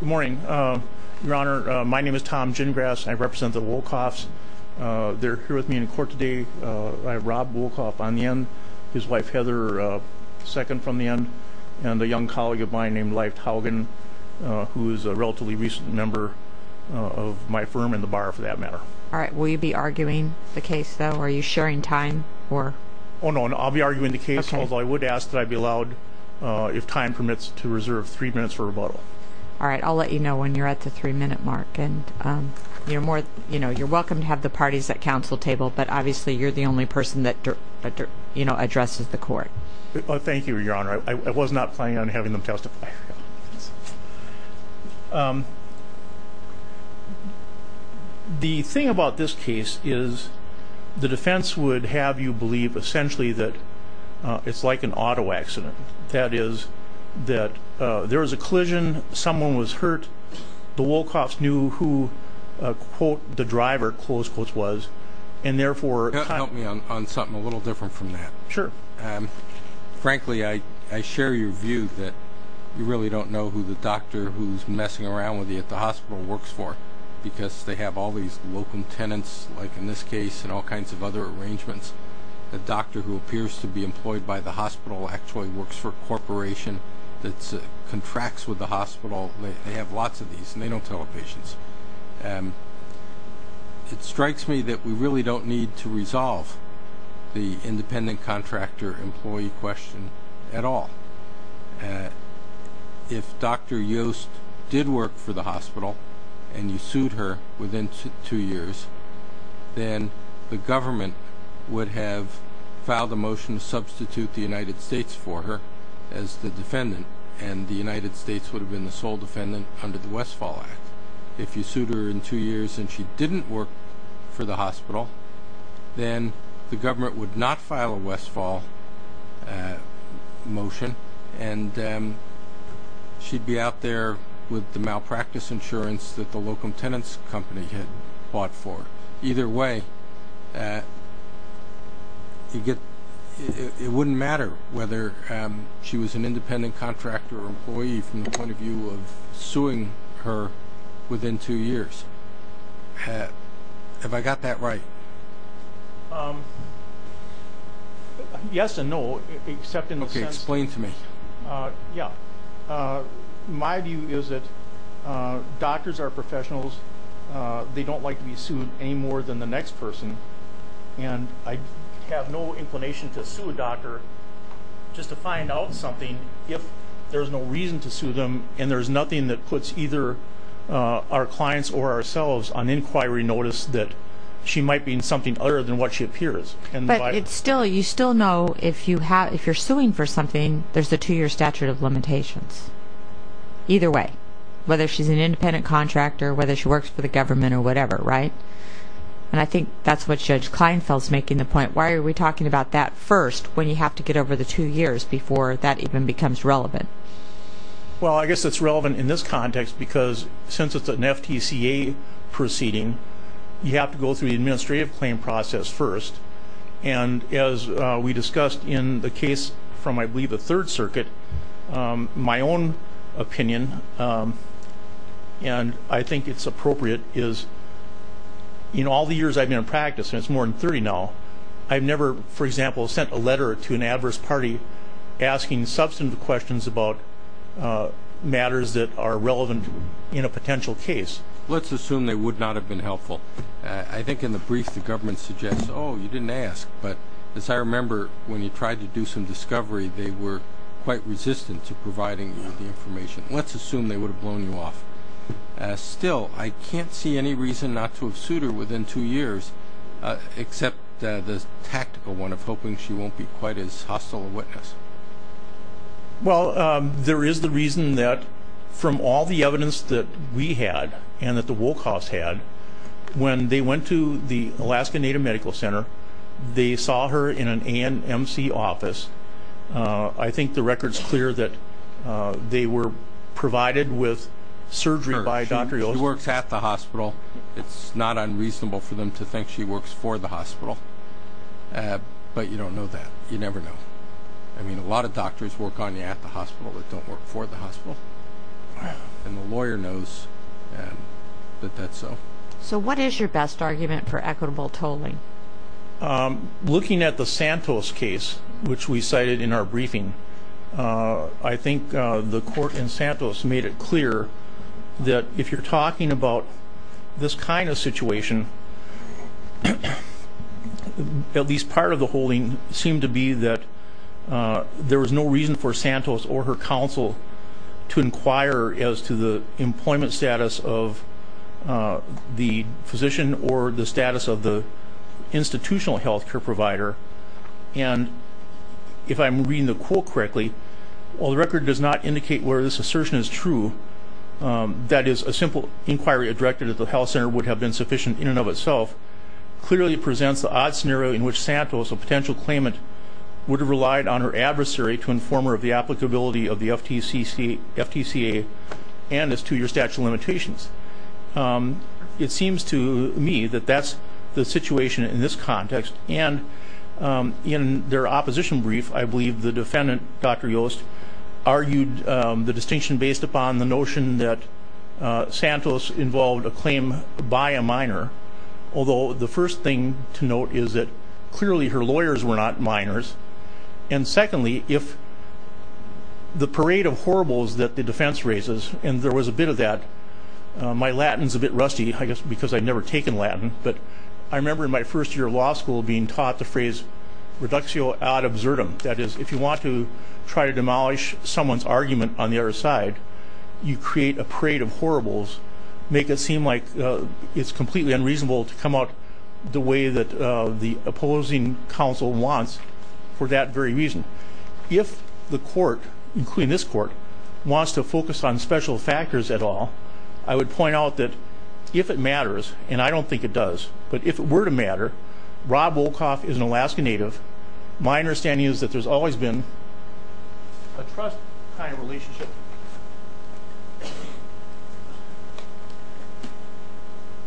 Good morning, Your Honor. My name is Tom Gingras and I represent the Wolcoffs. They're here with me in court today. I have Rob Wolcoff on the end, his wife Heather second from the end, and a young colleague of mine named Leif Taugen who is a relatively recent member of my firm in the bar for that matter. All right, will you be arguing the case though? Are you sharing time or... Oh no, I'll be arguing the case although I would ask that I be allowed, if time permits, to reserve three minutes for rebuttal. All right, I'll let you know when you're at the three-minute mark and you're more, you know, you're welcome to have the parties at council table, but obviously you're the only person that, you know, addresses the court. Thank you, Your Honor. I was not planning on having them testify. The thing about this case is the defense would have you believe essentially that it's like an auto accident. That is, that there was a collision, someone was hurt, the Wolcoffs knew who, quote, the driver, close quotes, was and therefore... Help me on something a little different from that. Sure. Frankly, I share your view that you really don't know who the doctor who's messing around with you at the hospital works for because they have all these local tenants, like in this a doctor who appears to be employed by the hospital actually works for a corporation that contracts with the hospital. They have lots of these and they don't tell the patients. It strikes me that we really don't need to resolve the independent contractor employee question at all. If Dr. Yost did work for the hospital and you sued her within two years, then the government would have filed a motion to substitute the United States for her as the defendant and the United States would have been the sole defendant under the Westfall Act. If you sued her in two years and she didn't work for the hospital, then the government would not file a Westfall motion and she'd be out there with the malpractice insurance that the local tenants company had fought for. Either way, it wouldn't matter whether she was an independent contractor employee from the point of view of suing her within two years. Have I got that doctors are professionals. They don't like to be sued any more than the next person and I have no inclination to sue a doctor just to find out something if there's no reason to sue them and there's nothing that puts either our clients or ourselves on inquiry notice that she might be in something other than what she appears. But you still know if you're suing for something, there's a two-year statute of limitations. Either way, whether she's an independent contractor, whether she works for the government or whatever, right? And I think that's what Judge Kleinfeld's making the point. Why are we talking about that first when you have to get over the two years before that even becomes relevant? Well, I guess it's relevant in this context because since it's an FTCA proceeding, you have to go through the administrative claim process first and as we discussed in the case from I believe the Third Circuit, my own opinion and I think it's appropriate is in all the years I've been in practice, and it's more than 30 now, I've never for example sent a letter to an adverse party asking substantive questions about matters that are relevant in a potential case. Let's assume they would not have been helpful. I think in the brief the government suggests, oh you didn't ask, but as I remember when you tried to do some discovery they were quite resistant to the information. Let's assume they would have blown you off. Still, I can't see any reason not to have sued her within two years except the tactical one of hoping she won't be quite as hostile a witness. Well, there is the reason that from all the evidence that we had and that the Wolkhouse had, when they went to the Alaska Native Medical Center, they saw her in an ANMC office. I think the they were provided with surgery by Dr. Olson. She works at the hospital. It's not unreasonable for them to think she works for the hospital, but you don't know that. You never know. I mean a lot of doctors work on you at the hospital that don't work for the hospital and the lawyer knows that that's so. So what is your best argument for equitable tolling? Looking at the Santos case, which we the court in Santos made it clear that if you're talking about this kind of situation, at least part of the holding seemed to be that there was no reason for Santos or her counsel to inquire as to the employment status of the physician or the status of the institutional health care provider. And if I'm reading the quote correctly, while the record does not indicate where this assertion is true, that is a simple inquiry directed at the health center would have been sufficient in and of itself, clearly presents the odd scenario in which Santos, a potential claimant, would have relied on her adversary to inform her of the applicability of the FTCA and its two-year statute limitations. It seems to me that that's the situation in this context and in their opposition brief, I believe the defendant, Dr. Yost, argued the distinction based upon the notion that Santos involved a claim by a minor, although the first thing to note is that clearly her lawyers were not minors. And secondly, if the parade of horribles that the defense raises, and there was a bit of that, my Latin's a bit rusty, I guess because I've never taken Latin, but I feel odd absurdum. That is, if you want to try to demolish someone's argument on the other side, you create a parade of horribles, make it seem like it's completely unreasonable to come out the way that the opposing counsel wants for that very reason. If the court, including this court, wants to focus on special factors at all, I would point out that if it matters, and I don't think it does, but my understanding is that there's always been a trust kind of relationship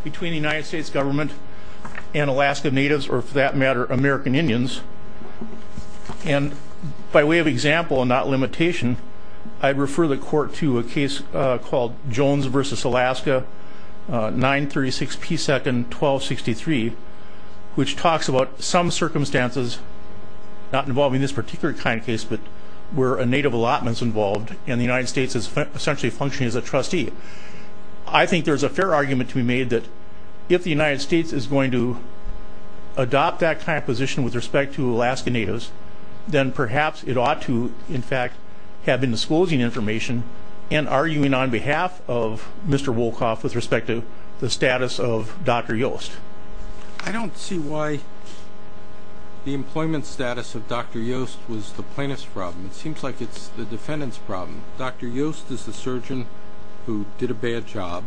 between the United States government and Alaska Natives, or for that matter, American Indians. And by way of example and not limitation, I'd refer the court to a case called Jones v. Alaska, 936 P. 2nd, 1263, which talks about some circumstances, not involving this particular kind of case, but where a Native allotment is involved, and the United States is essentially functioning as a trustee. I think there's a fair argument to be made that if the United States is going to adopt that kind of position with respect to Alaska Natives, then perhaps it ought to, in fact, have been disclosing information and arguing on behalf of Mr. Wolkoff with respect to the status of Dr. Yost. I don't see why the employment status of Dr. Yost was the plaintiff's problem. It seems like it's the defendant's problem. Dr. Yost is the surgeon who did a bad job.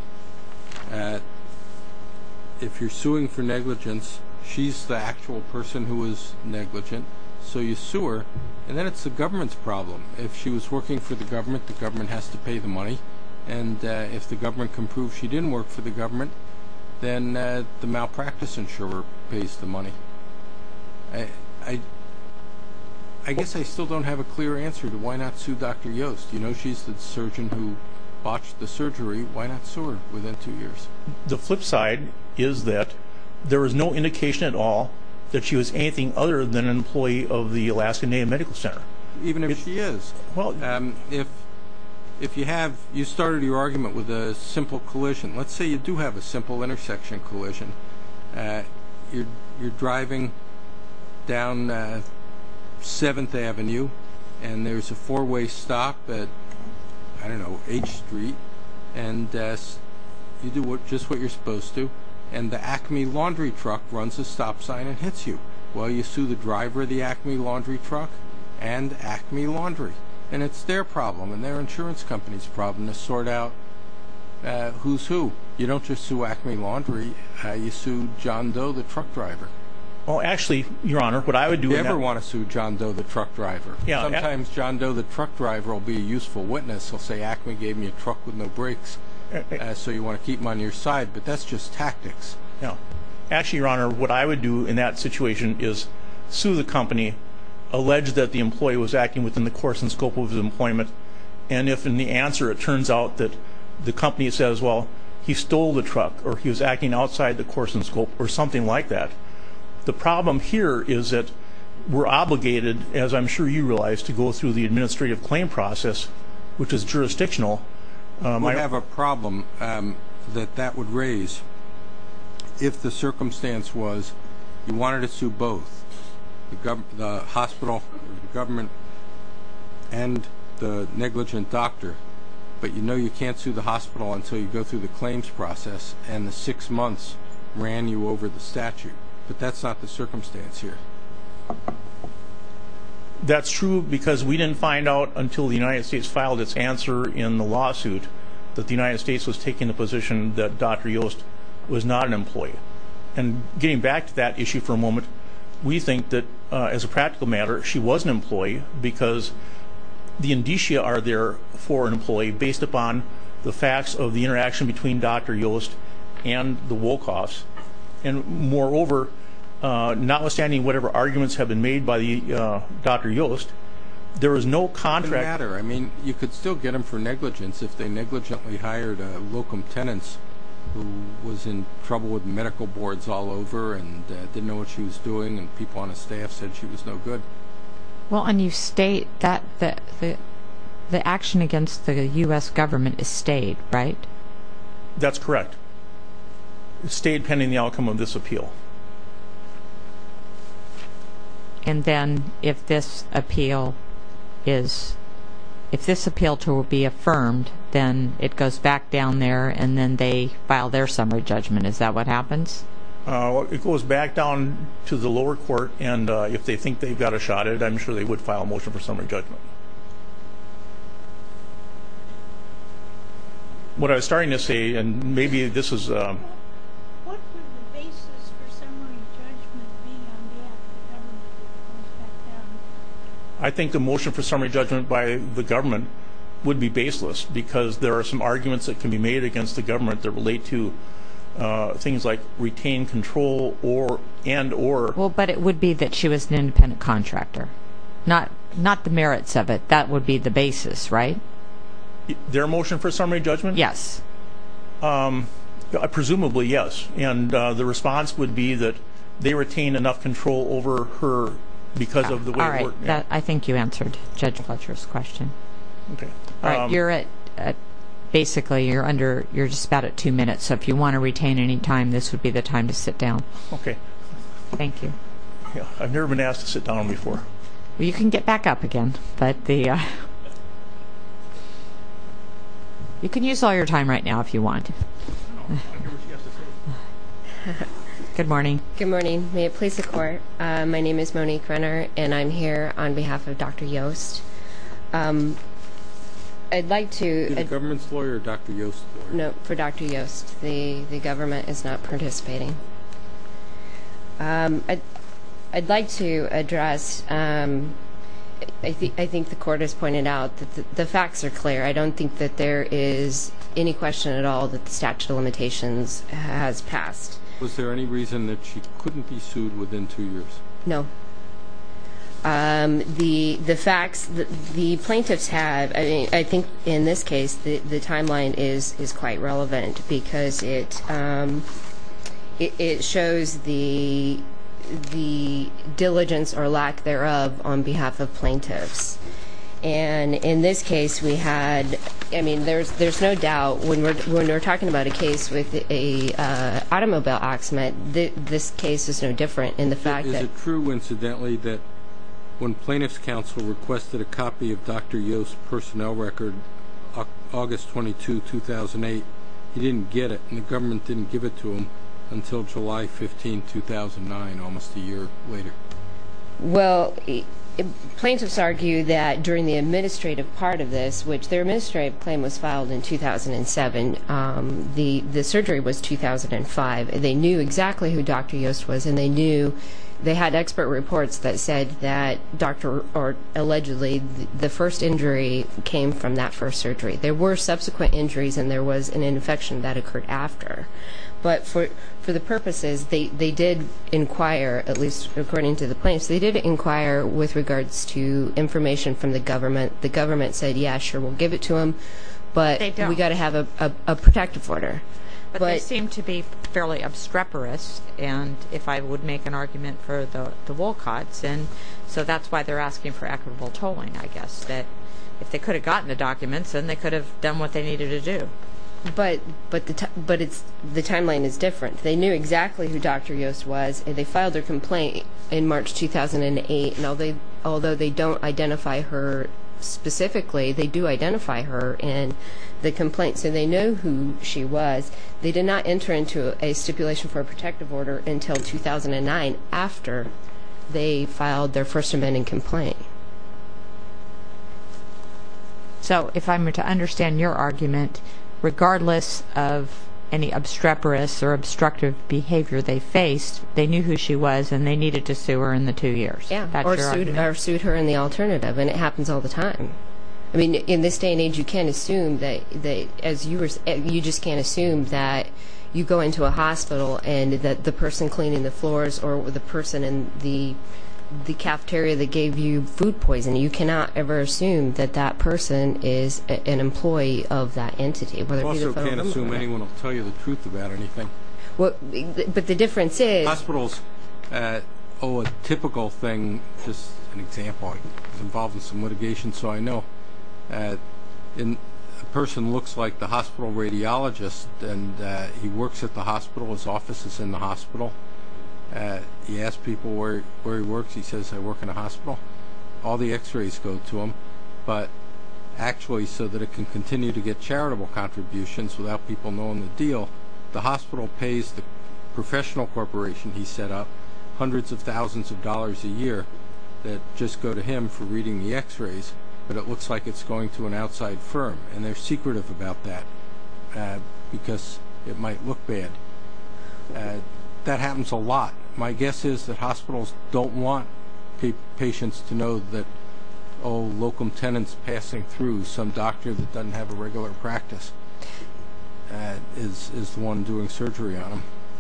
If you're suing for negligence, she's the actual person who was negligent, so you sue her, and then it's the government's problem. If she was working for the government, the government has to pay the money, and if the government can prove she didn't work for the government, then the malpractice insurer pays the money. I guess I still don't have a clear answer to why not sue Dr. Yost. You know, she's the surgeon who botched the surgery. Why not sue her within two years? The flip side is that there is no indication at all that she was anything other than an employee of the Alaska Native Medical Center. Even if she is. Well, if you have, you started your argument with a simple collision. Let's say you do have a simple intersection collision. You're driving down 7th Avenue, and there's a four-way stop at, I don't know, H Street, and you do just what you're supposed to, and the Acme laundry truck runs a stop sign and hits you. Well, you sue the driver of the Acme laundry truck and Acme laundry. And it's their problem, and their insurance company's problem, to sort out who's who. You don't just sue Acme laundry, you sue John Doe, the truck driver. Well, actually, Your Honor, what I would do... You never want to sue John Doe, the truck driver. Sometimes John Doe, the truck driver, will be a useful witness. He'll say, Acme gave me a truck with no brakes, so you want to keep him on your side. But that's just tactics. Actually, Your Honor, what I would do in that situation is sue the company, allege that the employee was acting within the course and scope of his employment, and if in the answer it turns out that the company says, well, he stole the truck, or he was acting outside the course and scope, or something like that. The problem here is that we're obligated, as I'm sure you realize, to go through the administrative claim process, which is jurisdictional. We have a problem that that would raise if the circumstance was you wanted to sue both. The hospital, the government, and the negligent doctor, but you know you can't sue the hospital until you go through the claims process, and the six months ran you over the statute. But that's not the circumstance here. That's true, because we didn't find out until the United States filed its answer in the lawsuit, that the United States was taking the position that Dr. Yost was not an employee. And getting back to that issue for a moment, we think that as a practical matter, she was an employee because the indicia are there for an employee based upon the facts of the interaction between Dr. Yost and the Wolkoffs. And moreover, notwithstanding whatever arguments have been made by the Dr. Yost, there was no contract. I mean, you could still get him for negligence if they negligently hired a locum tenants who was in trouble with medical boards all over, and didn't know what she was doing, and people on a staff said she was no good. Well, and you state that the the action against the US government is stayed, right? That's correct. Stayed pending the outcome of this appeal. And then it goes back down there, and then they file their summary judgment. Is that what happens? It goes back down to the lower court, and if they think they've got a shot at it, I'm sure they would file a motion for summary judgment. What I was starting to say, and maybe this is... I think the motion for summary judgment by the government would be baseless, because there are some arguments that can be made against the government that relate to things like retain control and or... Well, but it would be that she was an independent contractor. Not the merits of it. That would be the basis, right? Their motion for summary judgment? Yes. Presumably, yes. And the response would be that they retain enough control over her because of the way... All right, I think you answered Judge Fletcher's question. You're at... Basically, you're under... You're just about at two minutes, so if you want to retain any time, this would be the time to sit down. Okay. Thank you. Yeah, I've never been asked to sit down before. Well, you can get back up again, but the... You can use all your time right now if you want. Good morning. Good morning. May it please the court, my name is Monique Renner and I'm here on behalf of Dr. Yost. I'd like to... You're the government's lawyer or Dr. Yost's lawyer? No, for Dr. Yost. The government is not participating. I'd like to address... I think the court has pointed out that the facts are clear. I don't think that there is any question at all that the statute of limitations has passed. Was there any reason that she couldn't be sued within two years? No. The facts... The plaintiffs have... I think in this case, the timeline is quite relevant because it shows the diligence or lack thereof on behalf of plaintiffs. And in this case, we had... I mean, there's no doubt when we're talking about the automobile accident, this case is no different in the fact that... Is it true, incidentally, that when plaintiff's counsel requested a copy of Dr. Yost's personnel record, August 22, 2008, he didn't get it and the government didn't give it to him until July 15, 2009, almost a year later? Well, plaintiffs argue that during the administrative part of this, which their administrative claim was filed in 2007, the surgery was 2005. They knew exactly who Dr. Yost was and they knew... They had expert reports that said that Dr. Yost... Allegedly, the first injury came from that first surgery. There were subsequent injuries and there was an infection that occurred after. But for the purposes, they did inquire, at least according to the plaintiffs, they did inquire with regards to information from the government. The government said, yeah, sure, we'll give it to him, but we got to have a protective order. But they seem to be fairly obstreperous, and if I would make an argument for the Wolcott's, and so that's why they're asking for equitable tolling, I guess, that if they could have gotten the documents, then they could have done what they needed to do. But it's... The timeline is different. They knew exactly who Dr. Yost was and they filed their complaint in March 2008, and although they don't identify her specifically, they do know who she was, they did not enter into a stipulation for a protective order until 2009, after they filed their first amending complaint. So, if I'm to understand your argument, regardless of any obstreperous or obstructive behavior they faced, they knew who she was and they needed to sue her in the two years. Or sued her in the alternative, and it happens all the time. You just can't assume that you go into a hospital and that the person cleaning the floors or the person in the cafeteria that gave you food poisoning, you cannot ever assume that that person is an employee of that entity. You also can't assume anyone will tell you the truth about anything. But the difference is... Hospitals owe a typical thing, just an example, I was involved with a hospital radiologist and he works at the hospital, his office is in the hospital. He asked people where he works, he says I work in a hospital. All the x-rays go to him, but actually so that it can continue to get charitable contributions without people knowing the deal, the hospital pays the professional corporation he set up hundreds of thousands of dollars a year that just go to him for reading the x-rays, but it looks like it's going to an outside firm and they're secretive about that because it might look bad. That happens a lot. My guess is that hospitals don't want patients to know that local tenants passing through some doctor that doesn't have a regular practice is the one doing surgery on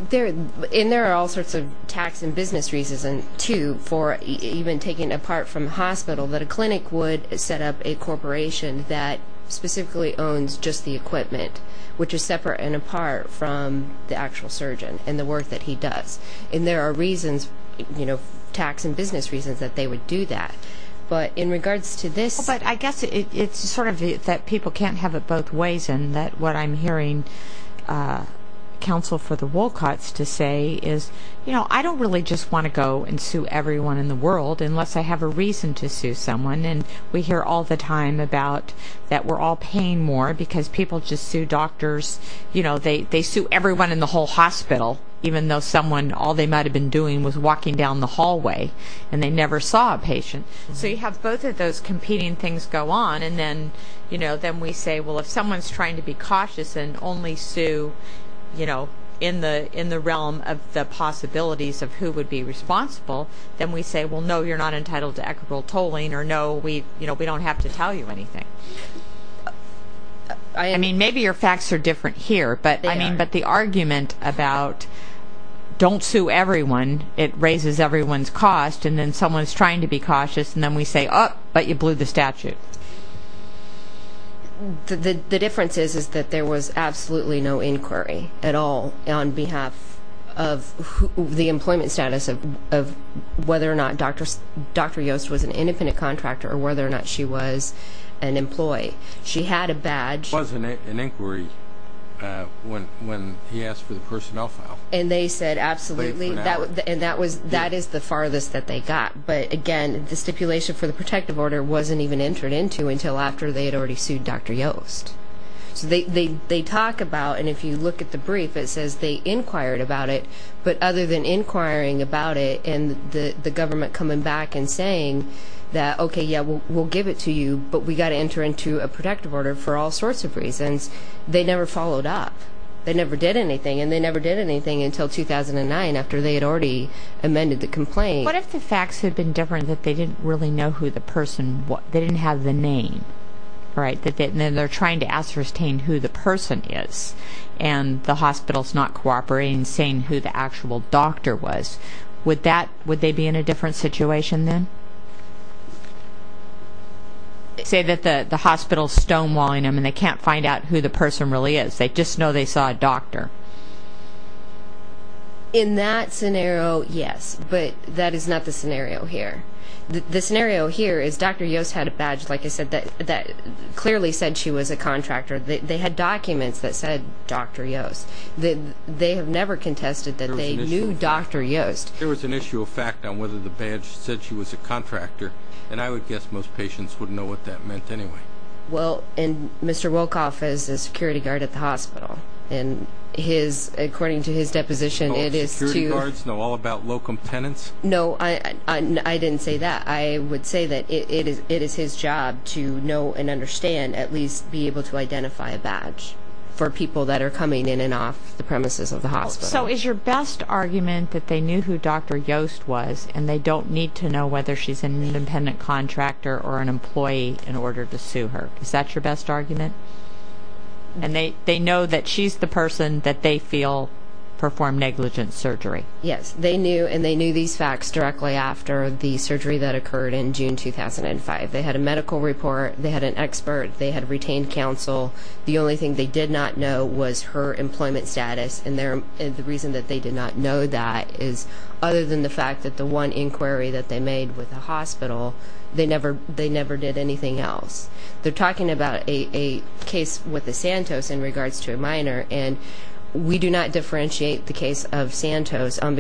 them. And there are all sorts of tax and business reasons too for even taking apart from hospital that a clinic would set up a specifically owns just the equipment, which is separate and apart from the actual surgeon and the work that he does. And there are reasons, you know, tax and business reasons that they would do that. But in regards to this... But I guess it's sort of that people can't have it both ways and that what I'm hearing Council for the Wolcott's to say is, you know, I don't really just want to go and sue everyone in the world unless I have a reason to sue someone. And we hear all the time about that we're all paying more because people just sue doctors, you know, they sue everyone in the whole hospital even though someone all they might have been doing was walking down the hallway and they never saw a patient. So you have both of those competing things go on and then, you know, then we say, well if someone's trying to be cautious and only sue, you know, in the in the realm of the possibilities of who would be responsible, then we say, well no you're not entitled to equitable tolling or no we, you know, we don't have to tell you anything. I mean, maybe your facts are different here, but I mean, but the argument about don't sue everyone, it raises everyone's cost and then someone's trying to be cautious and then we say, oh, but you blew the statute. The difference is, is that there was absolutely no inquiry at all on behalf of the employment status of whether or not Dr. Yost was an independent contractor or whether or not she was an employee. She had a badge. There was an inquiry when he asked for the personnel file. And they said absolutely, and that was, that is the farthest that they got. But again, the stipulation for the protective order wasn't even entered into until after they had already sued Dr. Yost. So they talk about, and if you look at the statute, there's no inquiry required about it, but other than inquiring about it and the government coming back and saying that, okay, yeah, we'll give it to you, but we got to enter into a protective order for all sorts of reasons, they never followed up. They never did anything and they never did anything until 2009, after they had already amended the complaint. What if the facts had been different, that they didn't really know who the person was? They didn't have the name, right? Then they're trying to ascertain who the person is and the hospital's not cooperating, saying who the actual doctor was. Would that, would they be in a different situation then? Say that the hospital's stonewalling them and they can't find out who the person really is. They just know they saw a doctor. In that scenario, yes, but that is not the scenario here. The scenario here is Dr. Yost had a badge, like I said, that clearly said she was a contractor. They had documents that said Dr. Yost. They have never contested that they knew Dr. Yost. There was an issue of fact on whether the badge said she was a contractor and I would guess most patients wouldn't know what that meant anyway. Well, and Mr. Wolkoff is a security guard at the hospital and his, according to his deposition, it is to... All security guards know all about locum tenants? No, I didn't say that. I would say that it is his job to know and for people that are coming in and off the premises of the hospital. So is your best argument that they knew who Dr. Yost was and they don't need to know whether she's an independent contractor or an employee in order to sue her? Is that your best argument? And they, they know that she's the person that they feel performed negligent surgery? Yes, they knew and they knew these facts directly after the surgery that occurred in June 2005. They had a medical report, they had an expert, they had retained counsel. The only thing they did not know was her employment status and the reason that they did not know that is other than the fact that the one inquiry that they made with the hospital, they never, they never did anything else. They're talking about a case with the Santos in regards to a minor and we do not differentiate the case of Santos on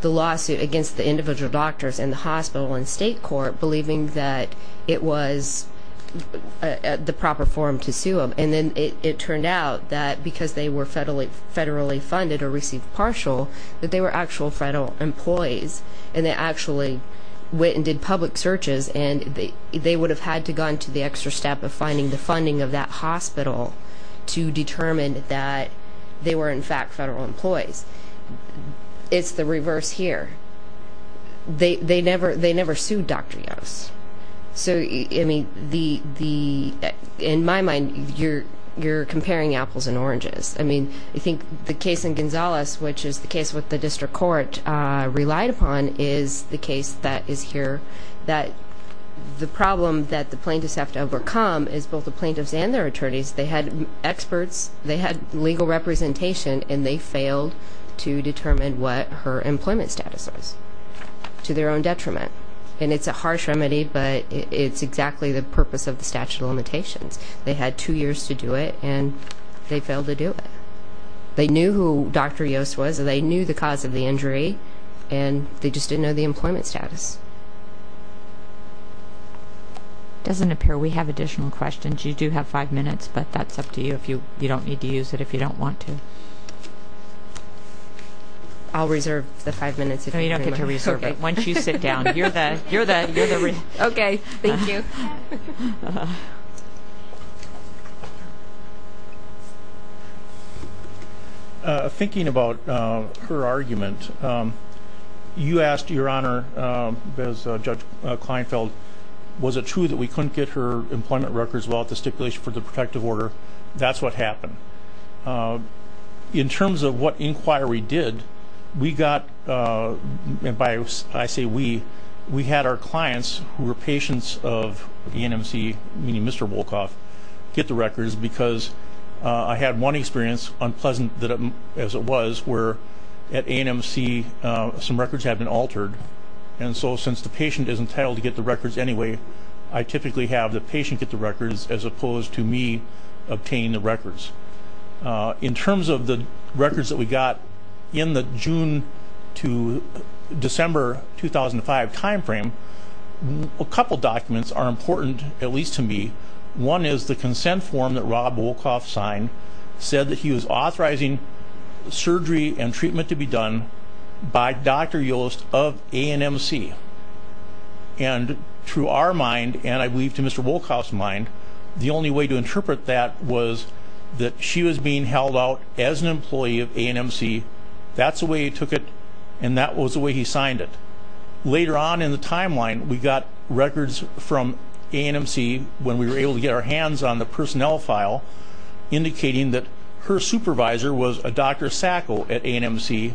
the lawsuit against the individual doctors in the hospital and state court believing that it was the proper form to sue them and then it turned out that because they were federally funded or received partial that they were actual federal employees and they actually went and did public searches and they they would have had to gone to the extra step of finding the funding of that hospital to determine that they were in fact federal employees. It's the reverse here. They, they never, they never sued Dr. Yost. So, I mean, the, the, in my mind, you're, you're comparing apples and oranges. I mean, I think the case in Gonzales, which is the case with the district court relied upon, is the case that is here that the problem that the plaintiffs have to overcome is both the attorneys, they had experts, they had legal representation and they failed to determine what her employment status was to their own detriment and it's a harsh remedy but it's exactly the purpose of the statute of limitations. They had two years to do it and they failed to do it. They knew who Dr. Yost was and they knew the cause of the injury and they just didn't know the employment status. It doesn't appear we have additional questions. You do have five minutes but that's up to you. If you, you don't need to use it if you don't want to. I'll reserve the five minutes. No, you don't get to reserve it. Once you sit down. You're the, you're the, you're the. Okay, thank you. Thinking about her argument, you asked your honor, Judge Kleinfeld, was it true that we couldn't get her employment records without the stipulation for the protective order? That's what happened. In terms of what inquiry did, we got, and by I say we, we had our clients who were patients of the ANMC, meaning Mr. Wolkoff, get the records because I had one experience, unpleasant as it was, where at ANMC some records had been altered and so since the patient is entitled to get the records anyway, I typically have the patient get the records as opposed to me obtaining the records. In terms of the records that we have, in terms of her 2005 time frame, a couple documents are important, at least to me. One is the consent form that Rob Wolkoff signed, said that he was authorizing surgery and treatment to be done by Dr. Yost of ANMC. And through our mind, and I believe to Mr. Wolkoff's mind, the only way to interpret that was that she was being held out as an employee and she signed it. Later on in the timeline, we got records from ANMC when we were able to get our hands on the personnel file indicating that her supervisor was a Dr. Sacco at ANMC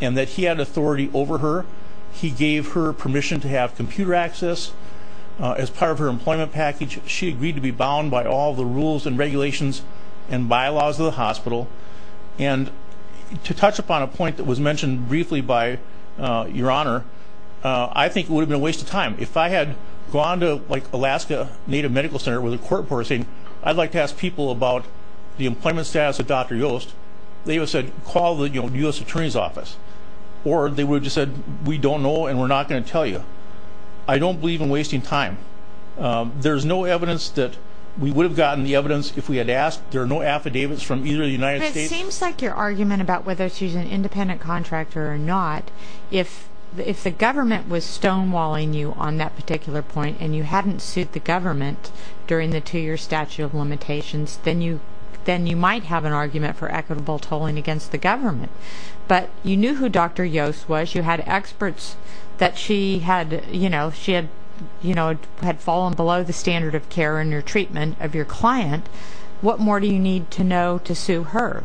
and that he had authority over her. He gave her permission to have computer access as part of her employment package. She agreed to be bound by all the rules and regulations and bylaws of the hospital. And to touch upon a point that was mentioned briefly by your Honor, I think it would have been a waste of time. If I had gone to like Alaska Native Medical Center with a court report saying I'd like to ask people about the employment status of Dr. Yost, they would have said call the U.S. Attorney's Office. Or they would have just said we don't know and we're not going to tell you. I don't believe in wasting time. There's no evidence that we would have gotten the evidence if we had asked. There are no affidavits from either the United States. But it seems like your argument about whether she's an independent contractor or not, if the government was stonewalling you on that particular point and you hadn't sued the government during the two-year statute of limitations, then you might have an argument for equitable tolling against the government. But you knew who Dr. Yost was. You had experts that she had fallen below the standard of care in her treatment of your client. What more do you need to know to sue her?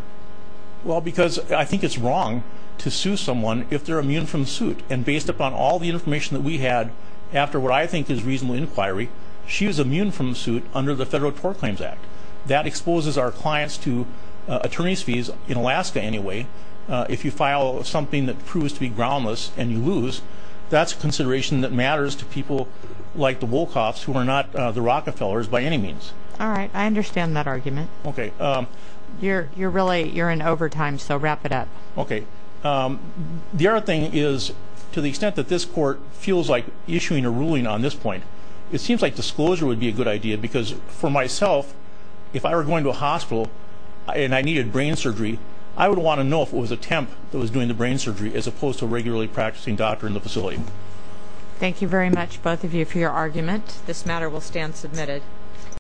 Well, because I think it's wrong to sue someone if they're immune from the suit. And based upon all the information that we had after what I think is reasonable inquiry, she was immune from the suit under the Federal Tort Claims Act. That exposes our clients to attorney's fees in Alaska anyway. If you file something that proves to be groundless and you lose, that's a consideration that matters to people like the Wolkoffs who are not the Rockefellers by any means. All right. I understand that argument. You're in overtime, so wrap it up. Okay. The other thing is, to the extent that this court feels like issuing a ruling on this point, it seems like disclosure would be a good idea. Because for myself, if I were going to a hospital and I needed brain surgery, I would want to know if it was a temp that was doing the brain surgery as opposed to regularly practicing doctor in the facility. Thank you very much, both of you, for your argument. This matter will stand submitted.